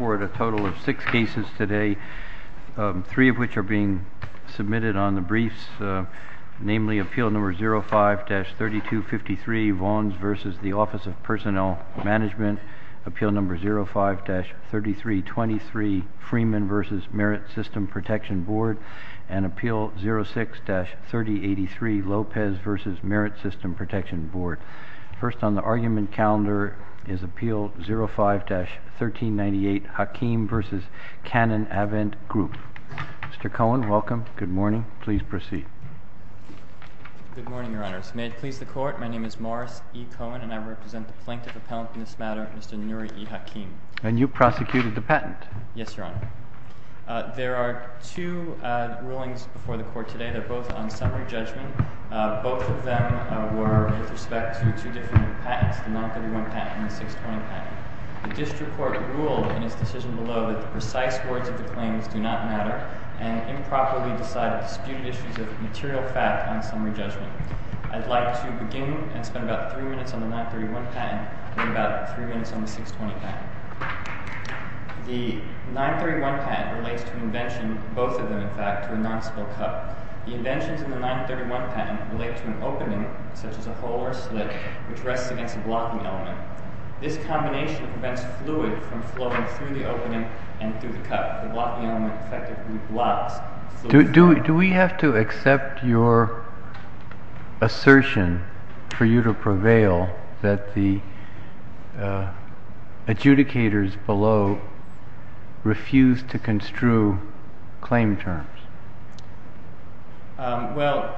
A total of six cases today, three of which are being submitted on the briefs, namely Appeal No. 05-3253, Vons v. Office of Personnel Management, Appeal No. 05-3323, Freeman v. Merit System Protection Board, and Appeal No. 06-3083, Lopez v. Merit System Protection Board. First on the argument calendar is Appeal No. 05-1398, Hakim v. Cannon Avent Group. Mr. Cohen, welcome. Good morning. Please proceed. Good morning, Your Honors. May it please the Court, my name is Morris E. Cohen, and I represent the plaintiff appellant in this matter, Mr. Nuri E. Hakim. And you prosecuted the patent? Yes, Your Honor. There are two rulings before the Court today. They're both on summary judgment. Both of them were with respect to two different patents, the 931 patent and the 620 patent. The District Court ruled in its decision below that the precise words of the claims do not matter, and improperly decided disputed issues of material fact on summary judgment. I'd like to begin and spend about three minutes on the 931 patent and about three minutes on the 620 patent. The 931 patent relates to an invention, both of them in fact, to a non-spell cup. The inventions in the 931 patent relate to an opening, such as a hole or slit, which rests against a blocking element. This combination prevents fluid from flowing through the opening and through the cup. The blocking element effectively blocks fluid flow. Do we have to accept your assertion for you to prevail that the adjudicators below refuse to construe claim terms? Well,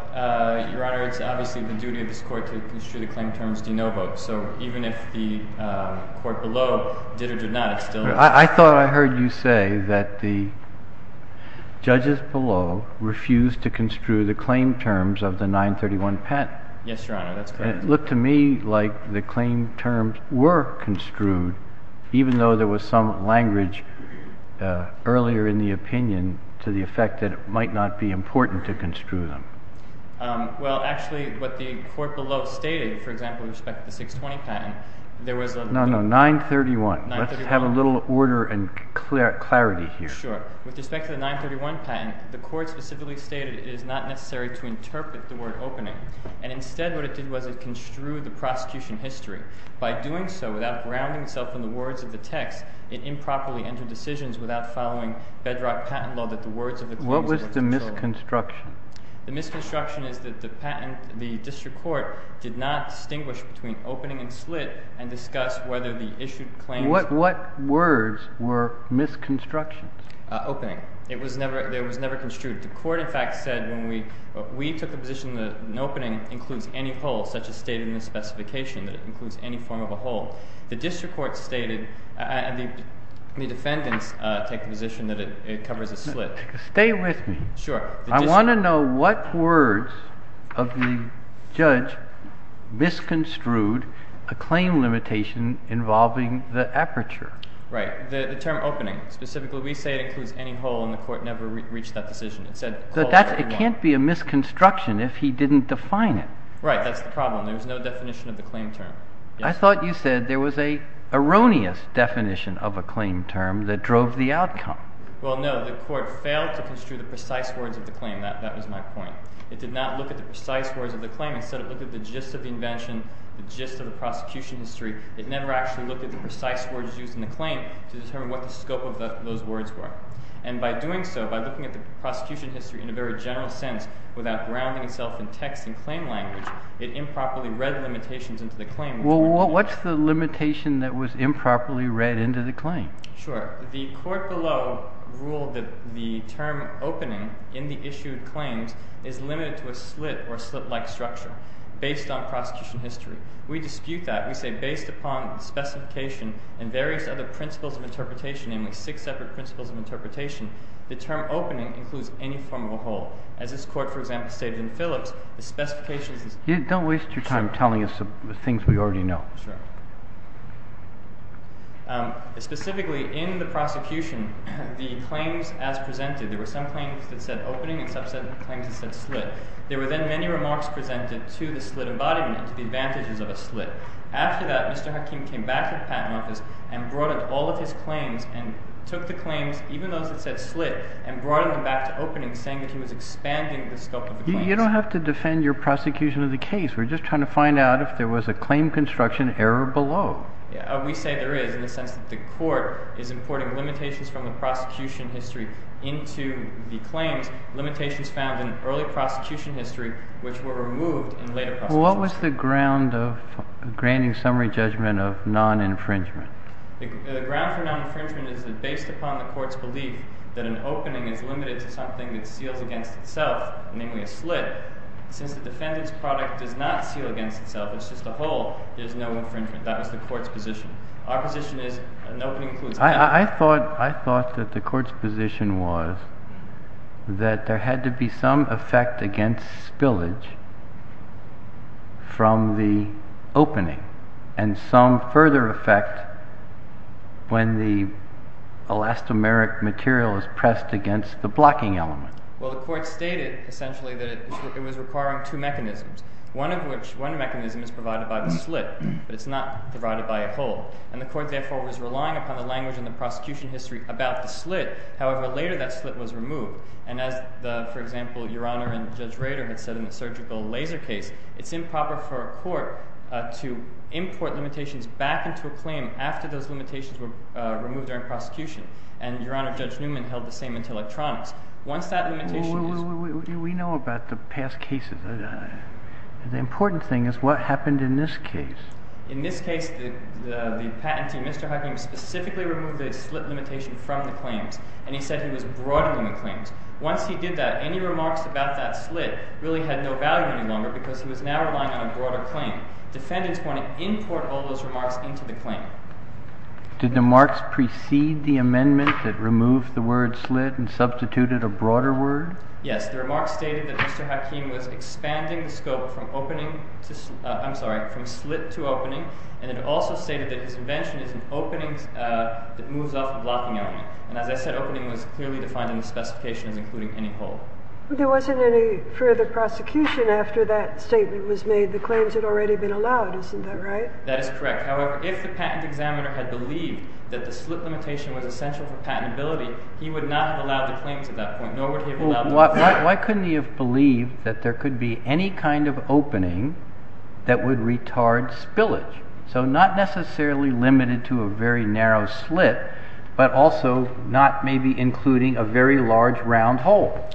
Your Honor, it's obviously the duty of this Court to construe the claim terms de novo. So even if the Court below did or did not, it's still... I thought I heard you say that the judges below refuse to construe the claim terms of the 931 patent. Yes, Your Honor, that's correct. It looked to me like the claim terms were construed, even though there was some language earlier in the opinion to the effect that it might not be important to construe them. Well, actually, what the Court below stated, for example, with respect to the 620 patent, there was... No, no, 931. Let's have a little order and clarity here. Sure. With respect to the 931 patent, the Court specifically stated it is not necessary to interpret the word opening. And instead what it did was it construed the prosecution history. By doing so, without grounding itself in the words of the text, it improperly entered decisions without following bedrock patent law that the words of the claims... What was the misconstruction? The misconstruction is that the district court did not distinguish between opening and slit and discuss whether the issued claims... What words were misconstructions? Opening. It was never... It was never construed. The Court, in fact, said when we took the position that an opening includes any whole, such as stated in the specification, that it includes any form of a whole. The district court stated, and the defendants take the position that it covers a slit. Stay with me. Sure. I want to know what words of the judge misconstrued a claim limitation involving the aperture. Right. The term opening. Specifically, we say it includes any whole and the Court never reached that decision. It said... It can't be a misconstruction if he didn't define it. Right. That's the problem. There's no definition of the claim term. I thought you said there was an erroneous definition of a claim term that drove the outcome. Well, no. The Court failed to construe the precise words of the claim. That was my point. It did not look at the precise words of the claim. Instead, it looked at the gist of the invention, the gist of the prosecution history. It never actually looked at the precise words used in the claim to determine what the scope of those words were. And by doing so, by looking at the prosecution history in a very general sense, without grounding itself in text and claim language, it improperly read the limitations into the claim. Well, what's the limitation that was improperly read into the claim? Sure. The Court below ruled that the term opening in the issued claims is limited to a slit or slit-like structure based on prosecution history. We dispute that. We say based upon specification and various other principles of interpretation, namely six separate principles of interpretation, the term opening includes any form of a whole. As this Court, for example, stated in Phillips, the specifications... Don't waste your time telling us things we already know. Sure. Specifically, in the prosecution, the claims as presented, there were some claims that said opening and some claims that said slit. There were then many remarks presented to the slit embodiment, to the advantages of a slit. After that, Mr. Hakim came back to the Patent Office and brought in all of his claims and took the claims, even those that said slit, and brought them back to opening saying that he was expanding the scope of the claims. You don't have to defend your prosecution of the case. We're just trying to find out if there was a claim construction error below. We say there is, in the sense that the Court is importing limitations from the prosecution history into the claims, limitations found in early prosecution history, which were removed in later prosecutions. What was the ground of granting summary judgment of non-infringement? The ground for non-infringement is that based upon the Court's belief that an opening is limited to something that seals against itself, namely a slit. Since the defendant's product does not seal against itself, it's just a hole, there's no infringement. That was the Court's position. Our position is an opening includes a slit. I thought that the Court's position was that there had to be some effect against spillage from the opening, and some further effect when the elastomeric material is pressed against the blocking element. Well, the Court stated, essentially, that it was requiring two mechanisms. One mechanism is provided by the slit, but it's not provided by a hole. And the Court, therefore, was relying upon the language in the prosecution history about the slit. However, later that slit was removed. And as, for example, Your Honor and Judge Rader had said in the surgical laser case, it's improper for a court to import limitations back into a claim after those limitations were removed during prosecution. And Your Honor, Judge Newman held the same until electronics. Well, we know about the past cases. The important thing is what happened in this case. In this case, the patentee, Mr. Hucking, specifically removed the slit limitation from the claims. And he said he was broadening the claims. Once he did that, any remarks about that slit really had no value any longer because he was now relying on a broader claim. Defendants want to import all those remarks into the claim. Did the remarks precede the amendment that removed the word slit and substituted a broader word? Yes. The remarks stated that Mr. Hucking was expanding the scope from opening to slit, I'm sorry, from slit to opening. And it also stated that his invention is an opening that moves off the blocking element. And as I said, opening was clearly defined in the specifications, including any hole. There wasn't any further prosecution after that statement was made. The claims had already been allowed, isn't that right? That is correct. However, if the patent examiner had believed that the slit limitation was essential for patentability, he would not have allowed the claims at that point, nor would he have allowed the opening. Why couldn't he have believed that there could be any kind of opening that would retard spillage? So not necessarily limited to a very narrow slit, but also not maybe including a very large round hole.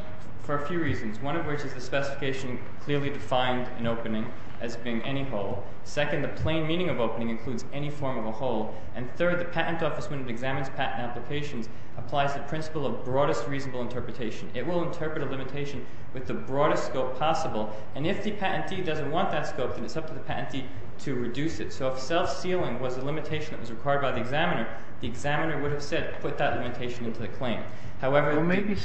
For a few reasons, one of which is the specification clearly defined an opening as being any hole. Second, the plain meaning of opening includes any form of a hole. And third, the patent office, when it examines patent applications, applies the principle of broadest reasonable interpretation. It will interpret a limitation with the broadest scope possible. And if the patentee doesn't want that scope, then it's up to the patentee to reduce it. So if self-sealing was a limitation that was required by the examiner, the examiner would have said put that limitation into the claim. Maybe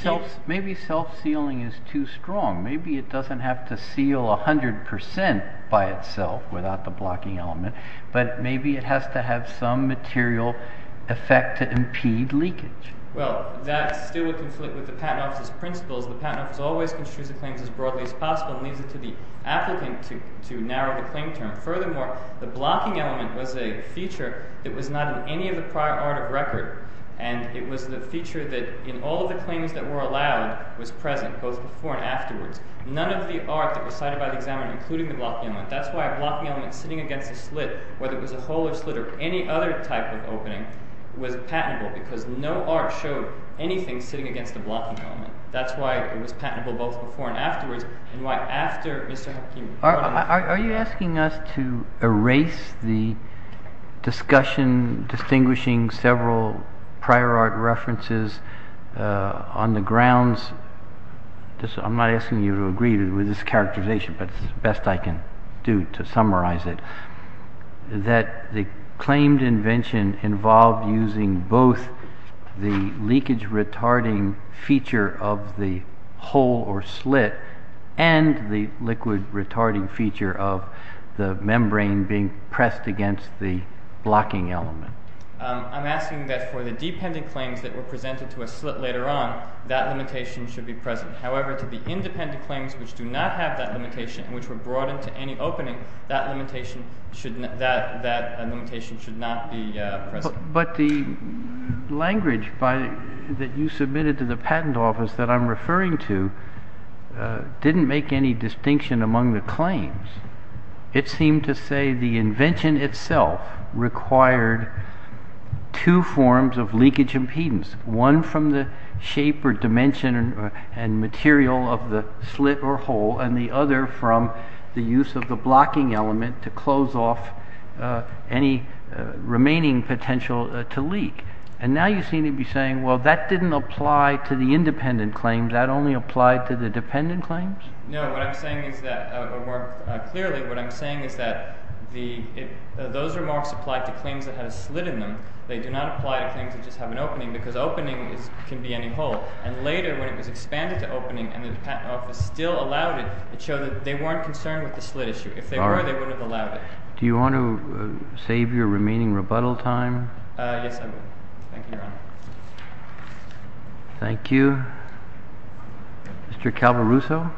self-sealing is too strong. Maybe it doesn't have to seal 100% by itself without the blocking element, but maybe it has to have some material effect to impede leakage. Well, that still would conflict with the patent office's principles. The patent office always construes the claims as broadly as possible and leaves it to the applicant to narrow the claim term. Furthermore, the blocking element was a feature that was not in any of the prior art of record. And it was the feature that, in all of the claims that were allowed, was present both before and afterwards. None of the art that was cited by the examiner, including the blocking element, that's why a blocking element sitting against a slit, whether it was a hole or slit or any other type of opening, was patentable because no art showed anything sitting against the blocking element. That's why it was patentable both before and afterwards, and why after Mr. Hakim brought it up... Are you asking us to erase the discussion distinguishing several prior art references on the grounds, I'm not asking you to agree with this characterization, but it's the best I can do to summarize it, that the claimed invention involved using both the leakage-retarding feature of the hole or slit and the liquid-retarding feature of the membrane being pressed against the blocking element. I'm asking that for the dependent claims that were presented to a slit later on, that limitation should be present. However, to the independent claims which do not have that limitation and which were brought into any opening, that limitation should not be present. But the language that you submitted to the patent office that I'm referring to didn't make any distinction among the claims. It seemed to say the invention itself required two forms of leakage impedance, one from the shape or dimension and material of the slit or hole, and the other from the use of the blocking element to close off any remaining potential to leak. And now you seem to be saying, well, that didn't apply to the independent claims, that only applied to the dependent claims? No, what I'm saying is that, more clearly, what I'm saying is that those remarks applied to claims that had a slit in them. They do not apply to claims that just have an opening, because opening can be any hole. And later, when it was expanded to opening, and the patent office still allowed it, it showed that they weren't concerned with the slit issue. If they were, they wouldn't have allowed it. Do you want to save your remaining rebuttal time? Yes, I do. Thank you, Your Honor. Thank you. Mr. Calvaruso?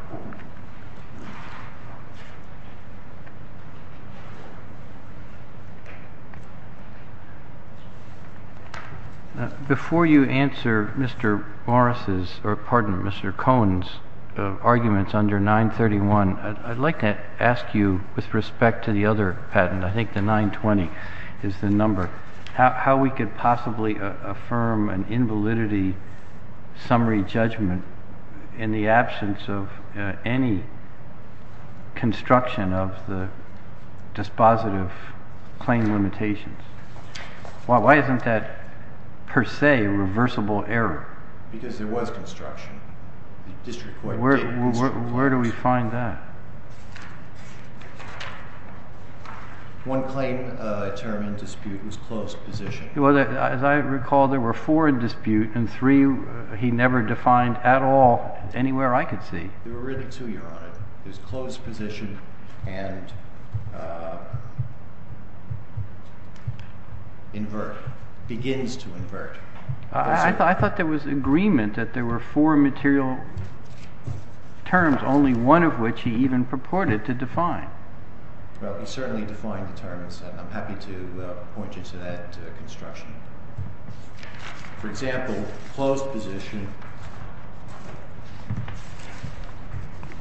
Before you answer Mr. Morris's, or pardon, Mr. Cohen's, arguments under 931, I'd like to ask you, with respect to the other patent, I think the 920 is the number, how we could possibly affirm an invalidity summary judgment in the absence of any construction of the dispositive claim limitations? Why isn't that, per se, a reversible error? Because there was construction. Where do we find that? One claim determined dispute was closed position. As I recall, there were four in dispute, and three he never defined at all, anywhere I could see. There were really two, Your Honor. It was closed position, and invert. Begins to invert. I thought there was agreement that there were four material terms, only one of which he even purported to define. Well, he certainly defined the terms, and I'm happy to point you to that construction. For example, closed position.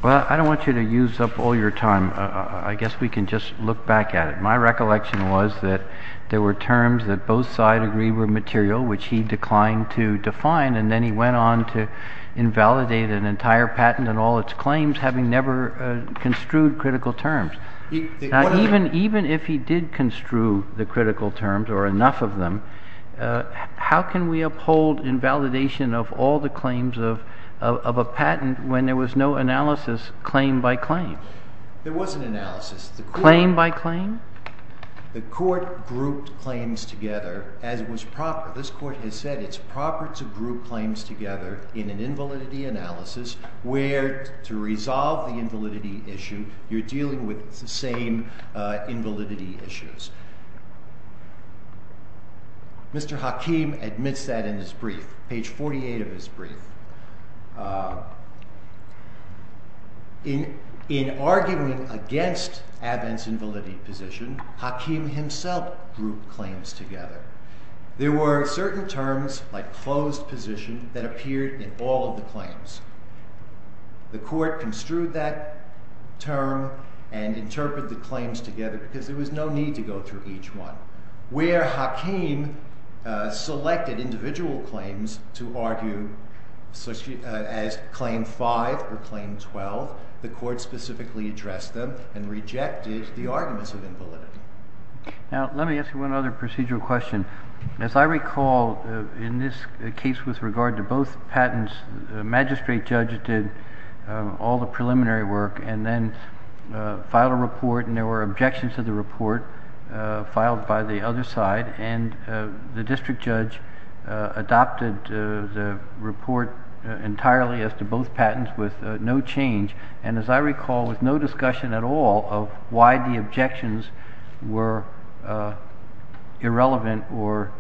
Well, I don't want you to use up all your time. I guess we can just look back at it. My recollection was that there were terms that both sides agreed were material, which he declined to define, and then he went on to invalidate an entire patent and all its claims, having never construed critical terms. Even if he did construe the critical terms, or enough of them, how can we uphold invalidation of all the claims of a patent when there was no analysis, claim by claim? There was an analysis. Claim by claim? The court grouped claims together, as was proper. This court has said it's proper to group claims together in an invalidity analysis where, to resolve the invalidity issue, you're dealing with the same invalidity issues. Mr. Hakim admits that in his brief, page 48 of his brief. In arguing against Abbott's invalidity position, Hakim himself grouped claims together. There were certain terms, like closed position, that appeared in all of the claims. The court construed that term and interpreted the claims together because there was no need to go through each one. Where Hakim selected individual claims to argue as claim 5 or claim 12, the court specifically addressed them and rejected the arguments of invalidity. Now, let me ask you one other procedural question. As I recall, in this case with regard to both patents, the magistrate judge did all the preliminary work and then filed a report, and there were objections to the report filed by the other side, and the district judge adopted the report entirely as to both patents with no change and, as I recall, with no discussion at all of why the objections were irrelevant or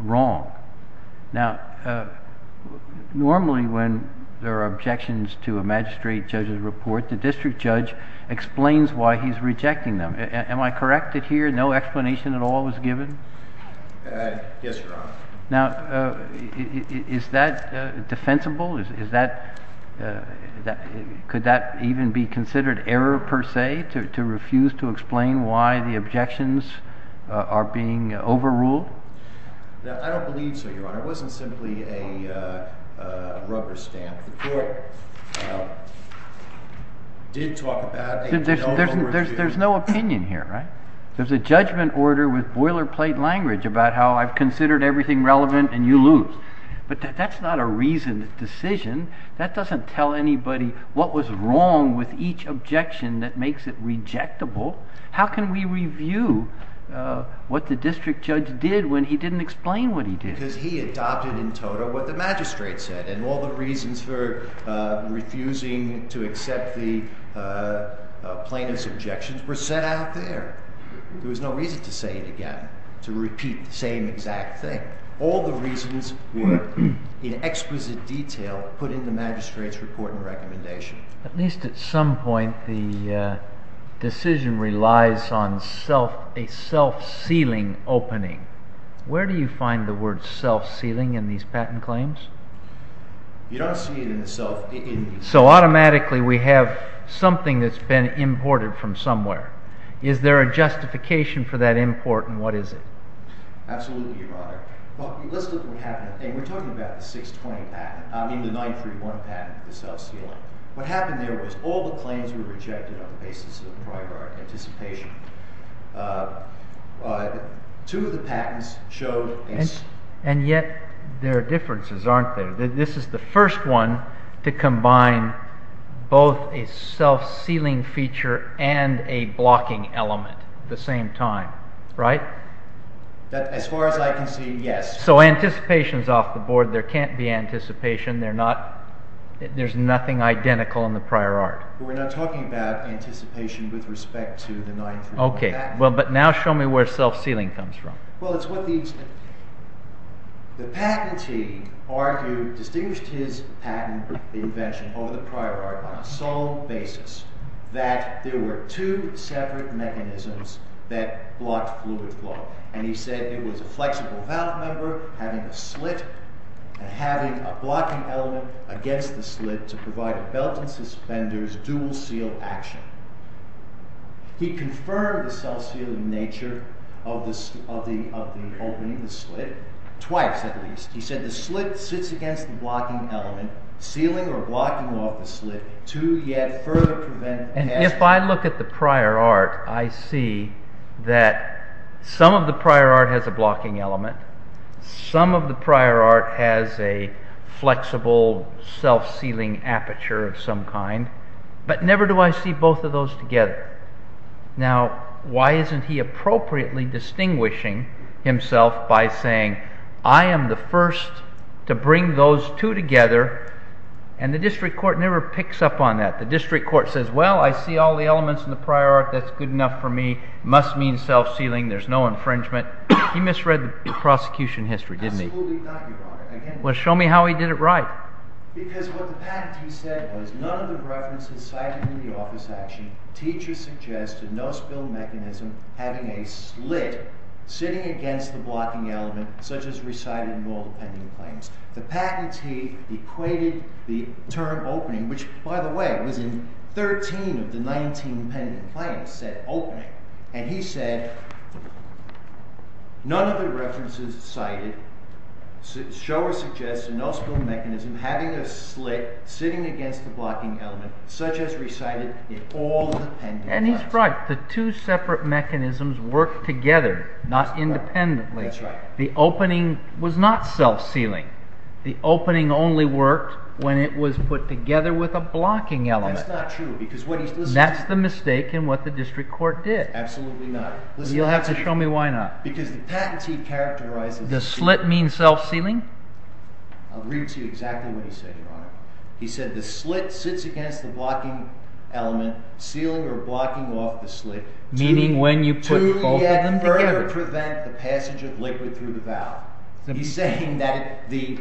wrong. Now, normally when there are objections to a magistrate judge's report, the district judge explains why he's rejecting them. Am I correct that here no explanation at all was given? Yes, Your Honor. Now, is that defensible? Could that even be considered error per se to refuse to explain why the objections are being overruled? I don't believe so, Your Honor. It wasn't simply a rubber stamp. The court did talk about a no-overstamp. There's no opinion here, right? There's a judgment order with boilerplate language about how I've considered everything relevant and you lose. But that's not a reasoned decision. That doesn't tell anybody what was wrong with each objection that makes it rejectable. How can we review what the district judge did when he didn't explain what he did? Because he adopted in total what the magistrate said and all the reasons for refusing to accept the plaintiff's objections were set out there. There was no reason to say it again, to repeat the same exact thing. All the reasons were in exquisite detail put in the magistrate's report and recommendation. At least at some point the decision relies on a self-sealing opening. Where do you find the word self-sealing in these patent claims? You don't see it in the self-sealing. So automatically we have something that's been imported from somewhere. Is there a justification for that import and what is it? Absolutely, your honor. Let's look at what happened. We're talking about the 620 patent, I mean the 931 patent, the self-sealing. What happened there was all the claims were rejected on the basis of prior art anticipation. Two of the patents showed... And yet there are differences, aren't there? This is the first one to combine both a self-sealing feature and a blocking element at the same time, right? As far as I can see, yes. So anticipation is off the board. There can't be anticipation. There's nothing identical in the prior art. We're not talking about anticipation with respect to the 931 patent. But now show me where self-sealing comes from. Well, it's what these... The patentee argued, distinguished his patent invention over the prior art on a sole basis that there were two separate mechanisms that blocked fluid flow. And he said it was a flexible valve member having a slit and having a blocking element against the slit to provide a belt and suspenders dual seal action. He confirmed the self-sealing nature of the opening, the slit, twice at least. He said the slit sits against the blocking element sealing or blocking off the slit to yet further prevent... And if I look at the prior art, I see that some of the prior art has a blocking element. Some of the prior art has a flexible self-sealing aperture of some kind. But never do I see both of those together. Now, why isn't he appropriately distinguishing himself by saying I am the first to bring those two together and the district court never picks up on that. The district court says, well, I see all the elements in the prior art. That's good enough for me. Must mean self-sealing. There's no infringement. He misread the prosecution history, didn't he? Well, show me how he did it right. Because what the patentee said was none of the references cited in the office action, teacher suggested no spill mechanism having a slit sitting against the blocking element such as recited in all the pending claims. The patentee equated the term opening, which, by the way, was in 13 of the 19 pending claims, said opening. And he said none of the references cited show or suggest a no spill mechanism having a slit sitting against the blocking element such as recited in all the pending claims. And he's right. The two separate mechanisms work together not independently. The opening was not self-sealing. The opening only worked when it was put together with a blocking element. That's the mistake in what the district court did. You'll have to show me why not. Because the patentee characterizes The slit means self-sealing? I'll read to you exactly what he said, Your Honor. He said the slit sits against the blocking element sealing or blocking off the slit Meaning when you put both of them together? To prevent the passage of liquid through the valve. He's saying that the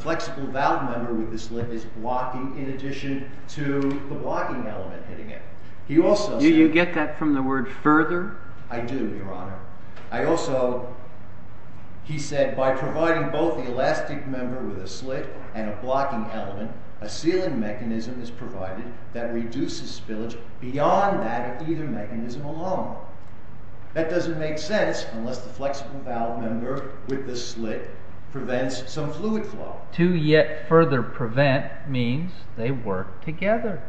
flexible valve member with the slit is blocking in addition to the blocking element hitting it. He also said Do you get that from the word further? I do, Your Honor. I also He said by providing both the elastic member with a slit and a blocking element a sealing mechanism is provided that reduces spillage beyond that of either mechanism alone. That doesn't make sense unless the flexible valve member with the slit prevents some fluid flow. To yet further prevent means they work together.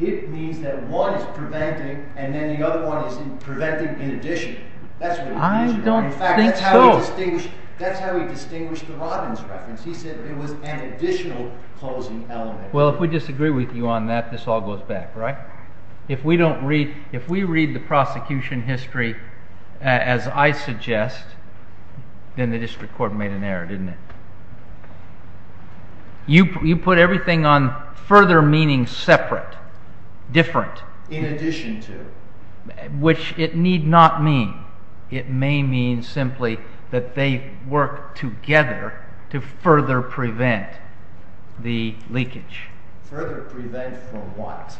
It means that one is preventing and then the other one is preventing in addition. I don't think so. In fact, that's how he distinguished the Robbins reference. He said it was an additional closing element. Well, if we disagree with you on that, this all goes back, right? If we don't read, if we read the prosecution history as I suggest then the district court made an error, didn't it? You put everything on further meaning separate different. In addition to? Which it need not mean. It may mean simply that they work together to further prevent the leakage. Further prevent from what?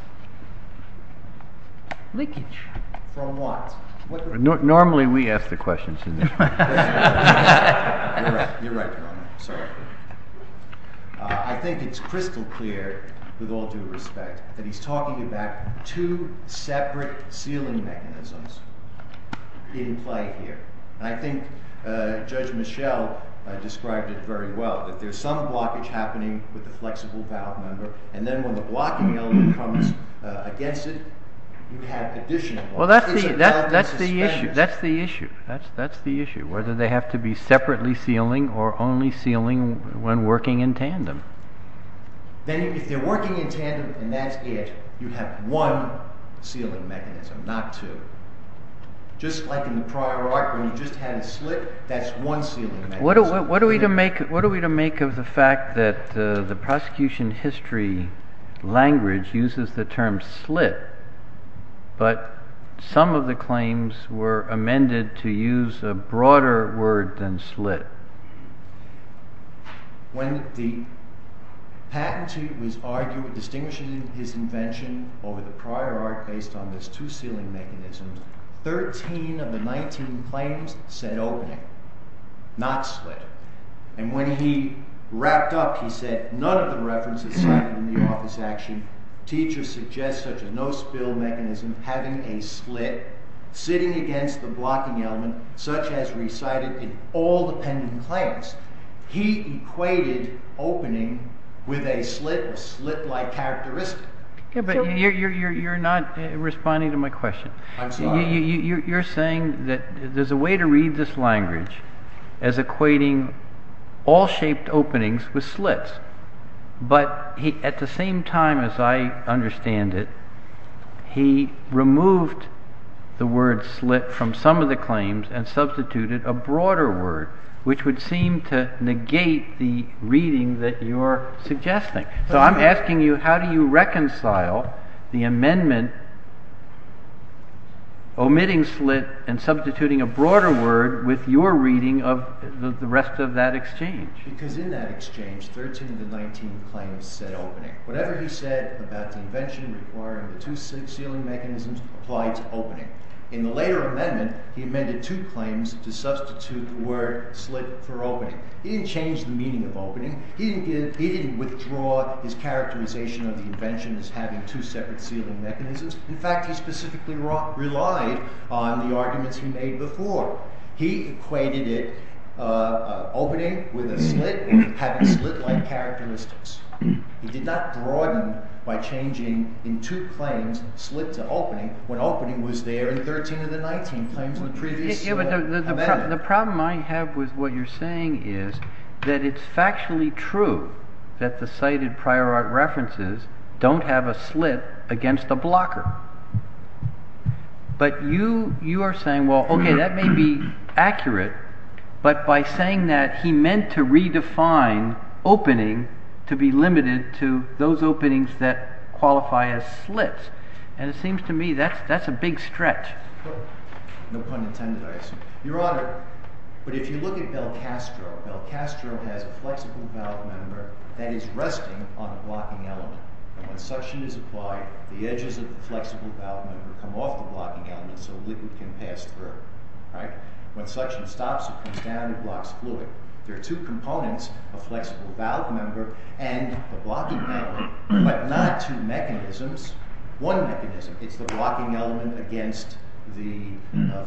Leakage. From what? Normally we ask the questions. You're right. Sorry. I think it's crystal clear with all due respect that he's talking about two separate sealing mechanisms in play here. I think Judge Michelle described it very well. There's some blockage happening with the flexible valve member and then when the blocking element comes against it you have additional. That's the issue. That's the issue. Whether they have to be separately sealing or only sealing when working in tandem. Then if they're working in tandem and that's it you have one sealing mechanism not two. Just like in the prior art when you just had a slit that's one sealing mechanism. What are we to make of the fact that the prosecution history language uses the term slit but some of the claims were amended to use a broader word than slit. When the patentee was arguing distinguishing his invention over the prior art based on this two sealing mechanisms. Thirteen of the nineteen claims said opening not slit. When he wrapped up he said none of the references cited in the office action. Teachers suggest such a no spill mechanism having a slit sitting against the blocking element such as recited in all the pending claims. He equated opening with a slit with slit like characteristic. You're not responding to my question. You're saying that there's a way to read this language as equating all shaped openings with slits but at the same time as I understand it he removed the word slit from some of the claims and substituted a broader word which would seem to negate the reading that you're suggesting. So I'm asking you how do you reconcile the amendment omitting slit and substituting a broader word with your reading of the rest of that exchange. Because in that exchange thirteen of the nineteen claims said opening. Whatever he said about the invention requiring the two sealing mechanisms applied to opening. In the later amendment he amended two claims to substitute the word slit for opening. He didn't change the meaning of opening. He didn't withdraw his two separate sealing mechanisms. In fact he specifically relied on the arguments he made before. He equated it opening with a slit having slit like characteristics. He did not broaden by changing in two claims slit to opening when opening was there in thirteen of the nineteen claims in the previous amendment. The problem I have with what you're saying is that it's factually true that the cited prior art references don't have a slit against a blocker. But you are saying well okay that may be accurate but by saying that he meant to redefine opening to be limited to those openings that qualify as slits. And it seems to me that's a big stretch. No pun intended I assume. Your honor, but if you look at Belcastro, Belcastro has a flexible valve member that is resting on the blocking element. When suction is applied the edges of the flexible valve member come off the blocking element so liquid can pass through. When suction stops it comes down and blocks fluid. There are two components a flexible valve member and the blocking element but not two mechanisms. One mechanism is the blocking element against the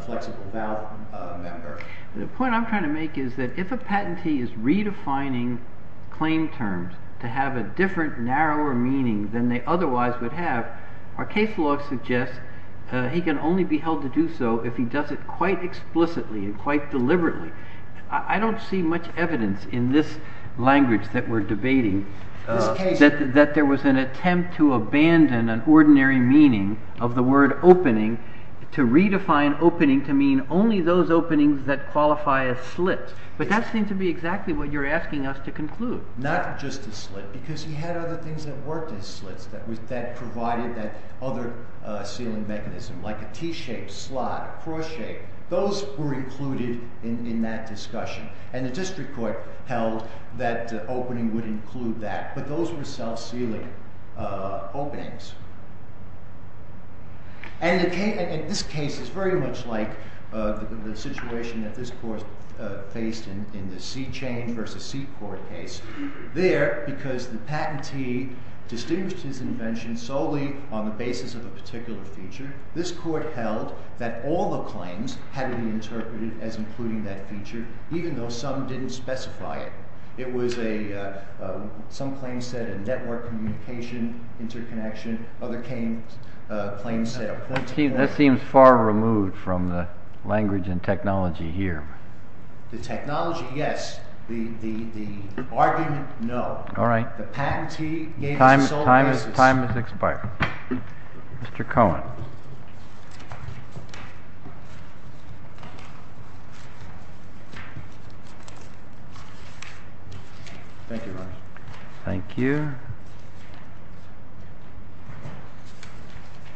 flexible valve member. The point I'm trying to make is that if a patentee is redefining claim terms to have a different narrower meaning than they otherwise would have, our case law suggests he can only be held to do so if he does it quite explicitly and quite deliberately. I don't see much evidence in this language that we're debating that there was an attempt to abandon an ordinary meaning of the word opening to redefine opening to mean only those openings that qualify as slit. But that seems to be exactly what you're asking us to conclude. Not just a slit because he had other things that worked as slits that provided that other sealing mechanism like a T-shaped slot a cross shape. Those were included in that discussion and the district court held that opening would include that but those were self-sealing openings. And this case is very much like the situation that this court faced in the C-chain versus C-court case. There, because the patentee distinguished his invention solely on the basis of a particular feature this court held that all the claims had to be interpreted as including that feature even though some didn't specify it. said a network communication interconnection, other claims said a point-to-point. That seems far removed from the language and technology here. The technology, yes. The argument, no. Alright. The patentee gave us a sole basis. Time has expired. Mr. Cohen. Thank you, Your Honor. Thank you. Your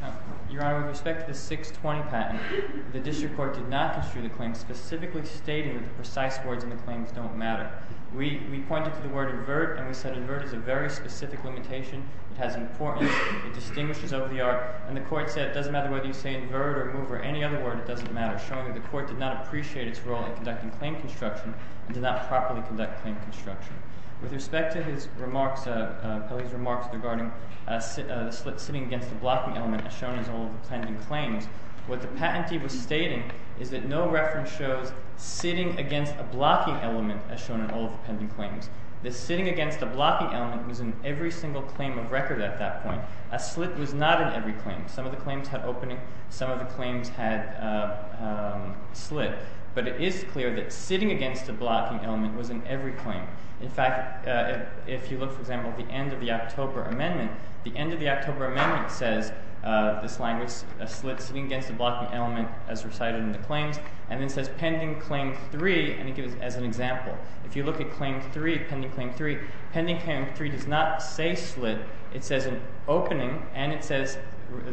Honor. Your Honor, with respect to the 620 patent, the district court did not issue the claim specifically stating that the precise words in the claims don't matter. We pointed to the word invert and we said invert is a very specific limitation it has importance, it distinguishes over the art, and the court said it doesn't matter whether you say invert or move or any other word it doesn't matter, showing that the court did not appreciate its role in conducting claim construction and did not properly conduct claim construction. With respect to his remarks, Pelley's remarks regarding the slit sitting against the blocking element as shown in all of the pending claims, what the patentee was stating is that no reference shows sitting against a blocking element as shown in all of the pending claims. The sitting against the blocking element was in every single claim of record at that point. A slit was not in every claim. Some of the claims had opening, some of the claims had slit. But it is clear that sitting against a blocking element was in every claim. In fact, if you look for example at the end of the October Amendment the end of the October Amendment says this language, a slit sitting against a blocking element as recited in the claims, and then says pending claim 3, and it gives as an example. If you look at claim 3, pending claim 3 pending claim 3 does not say slit, it says an opening and it says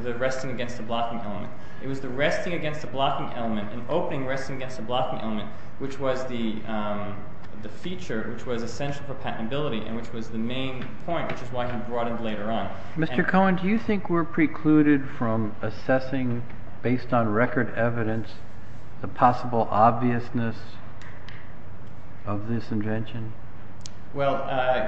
the resting against the blocking element. It was the resting against the blocking element, an opening resting against the blocking element, which was the feature which was essential for patentability and which was the main point which is why he broadened later on. Mr. Cohen, do you think we're precluded from assessing based on record evidence the possible obviousness of this invention? Well,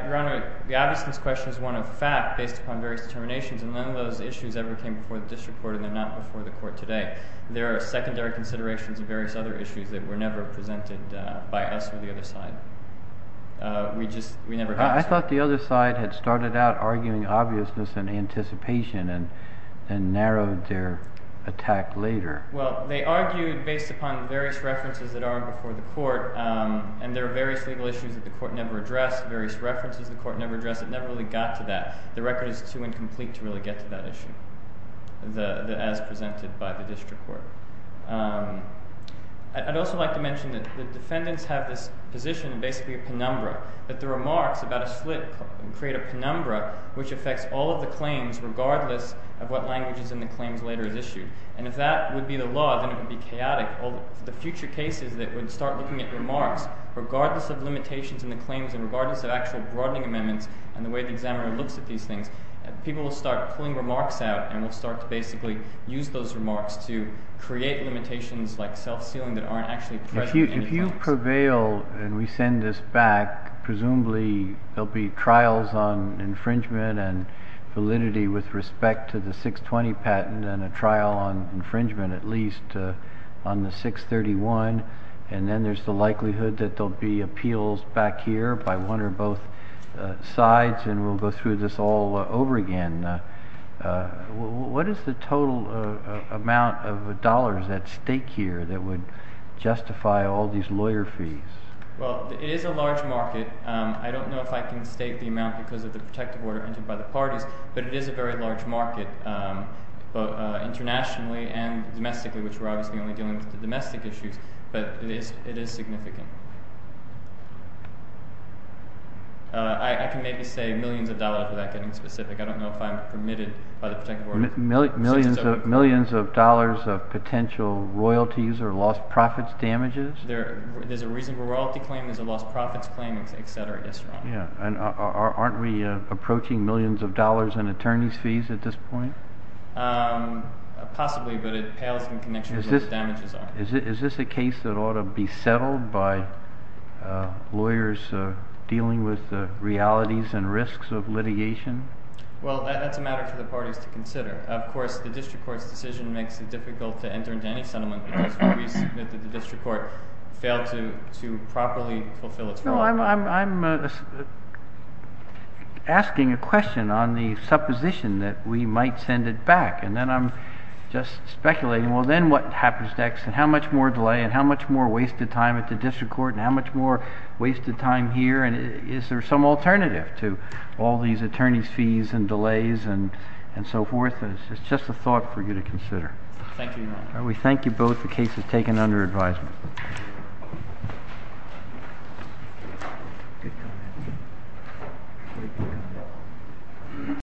Your Honor, the obviousness question is one of fact based upon various determinations and none of those issues ever came before the district court and they're not before the court today. There are secondary considerations of various other issues that were never presented by us or the other side. We just, we never got to. I thought the other side had started out arguing obviousness and anticipation and narrowed their attack later. Well, they argued based upon various references that are before the court and there are various legal issues that the court never addressed various references the court never addressed it never really got to that. The record is too incomplete to really get to that issue as presented by the district court. I'd also like to mention that the defendants have this position, basically a penumbra, that the remarks about a slit create a penumbra which affects all of the claims regardless of what language is in the claims later is issued and if that would be the law then it would be chaotic. The future cases that would start looking at remarks regardless of limitations in the claims and regardless of actual broadening amendments and the way the examiner looks at these things people will start pulling remarks out and will start to basically use those remarks to create limitations like self-sealing that aren't actually present If you prevail and we send this back, presumably there'll be trials on infringement and validity with respect to the 620 patent and a trial on infringement at least on the 631 and then there's the likelihood that there'll be appeals back here by one or both sides and we'll go through this all over again What is the total amount of dollars at stake here that would justify all these lawyer fees? Well, it is a large market I don't know if I can state the amount because of the protective order entered by the parties but it is a very large market both internationally and domestically, which we're obviously only dealing with the domestic issues, but it is significant I can maybe say millions of dollars without getting specific I don't know if I'm permitted by the protective order Millions of dollars of potential royalties or lost profits damages? There's a reasonable royalty claim there's a lost profits claim, etc. Aren't we approaching millions of dollars in attorney's fees at this point? Possibly, but it pales in connection with what the damages are Is this a case that ought to be settled by lawyers dealing with realities and risks of litigation? Well, that's a matter for the parties to consider. Of course, the district court's decision makes it difficult to enter into any settlement because we submit that the district court failed to properly fulfill its role I'm asking a question on the supposition that we might send it back and then I'm just asking how much more delay and how much more wasted time at the district court and how much more wasted time here? Is there some alternative to all these attorney's fees and delays and so forth? It's just a thought for you to consider. We thank you both. The case is taken under advisement.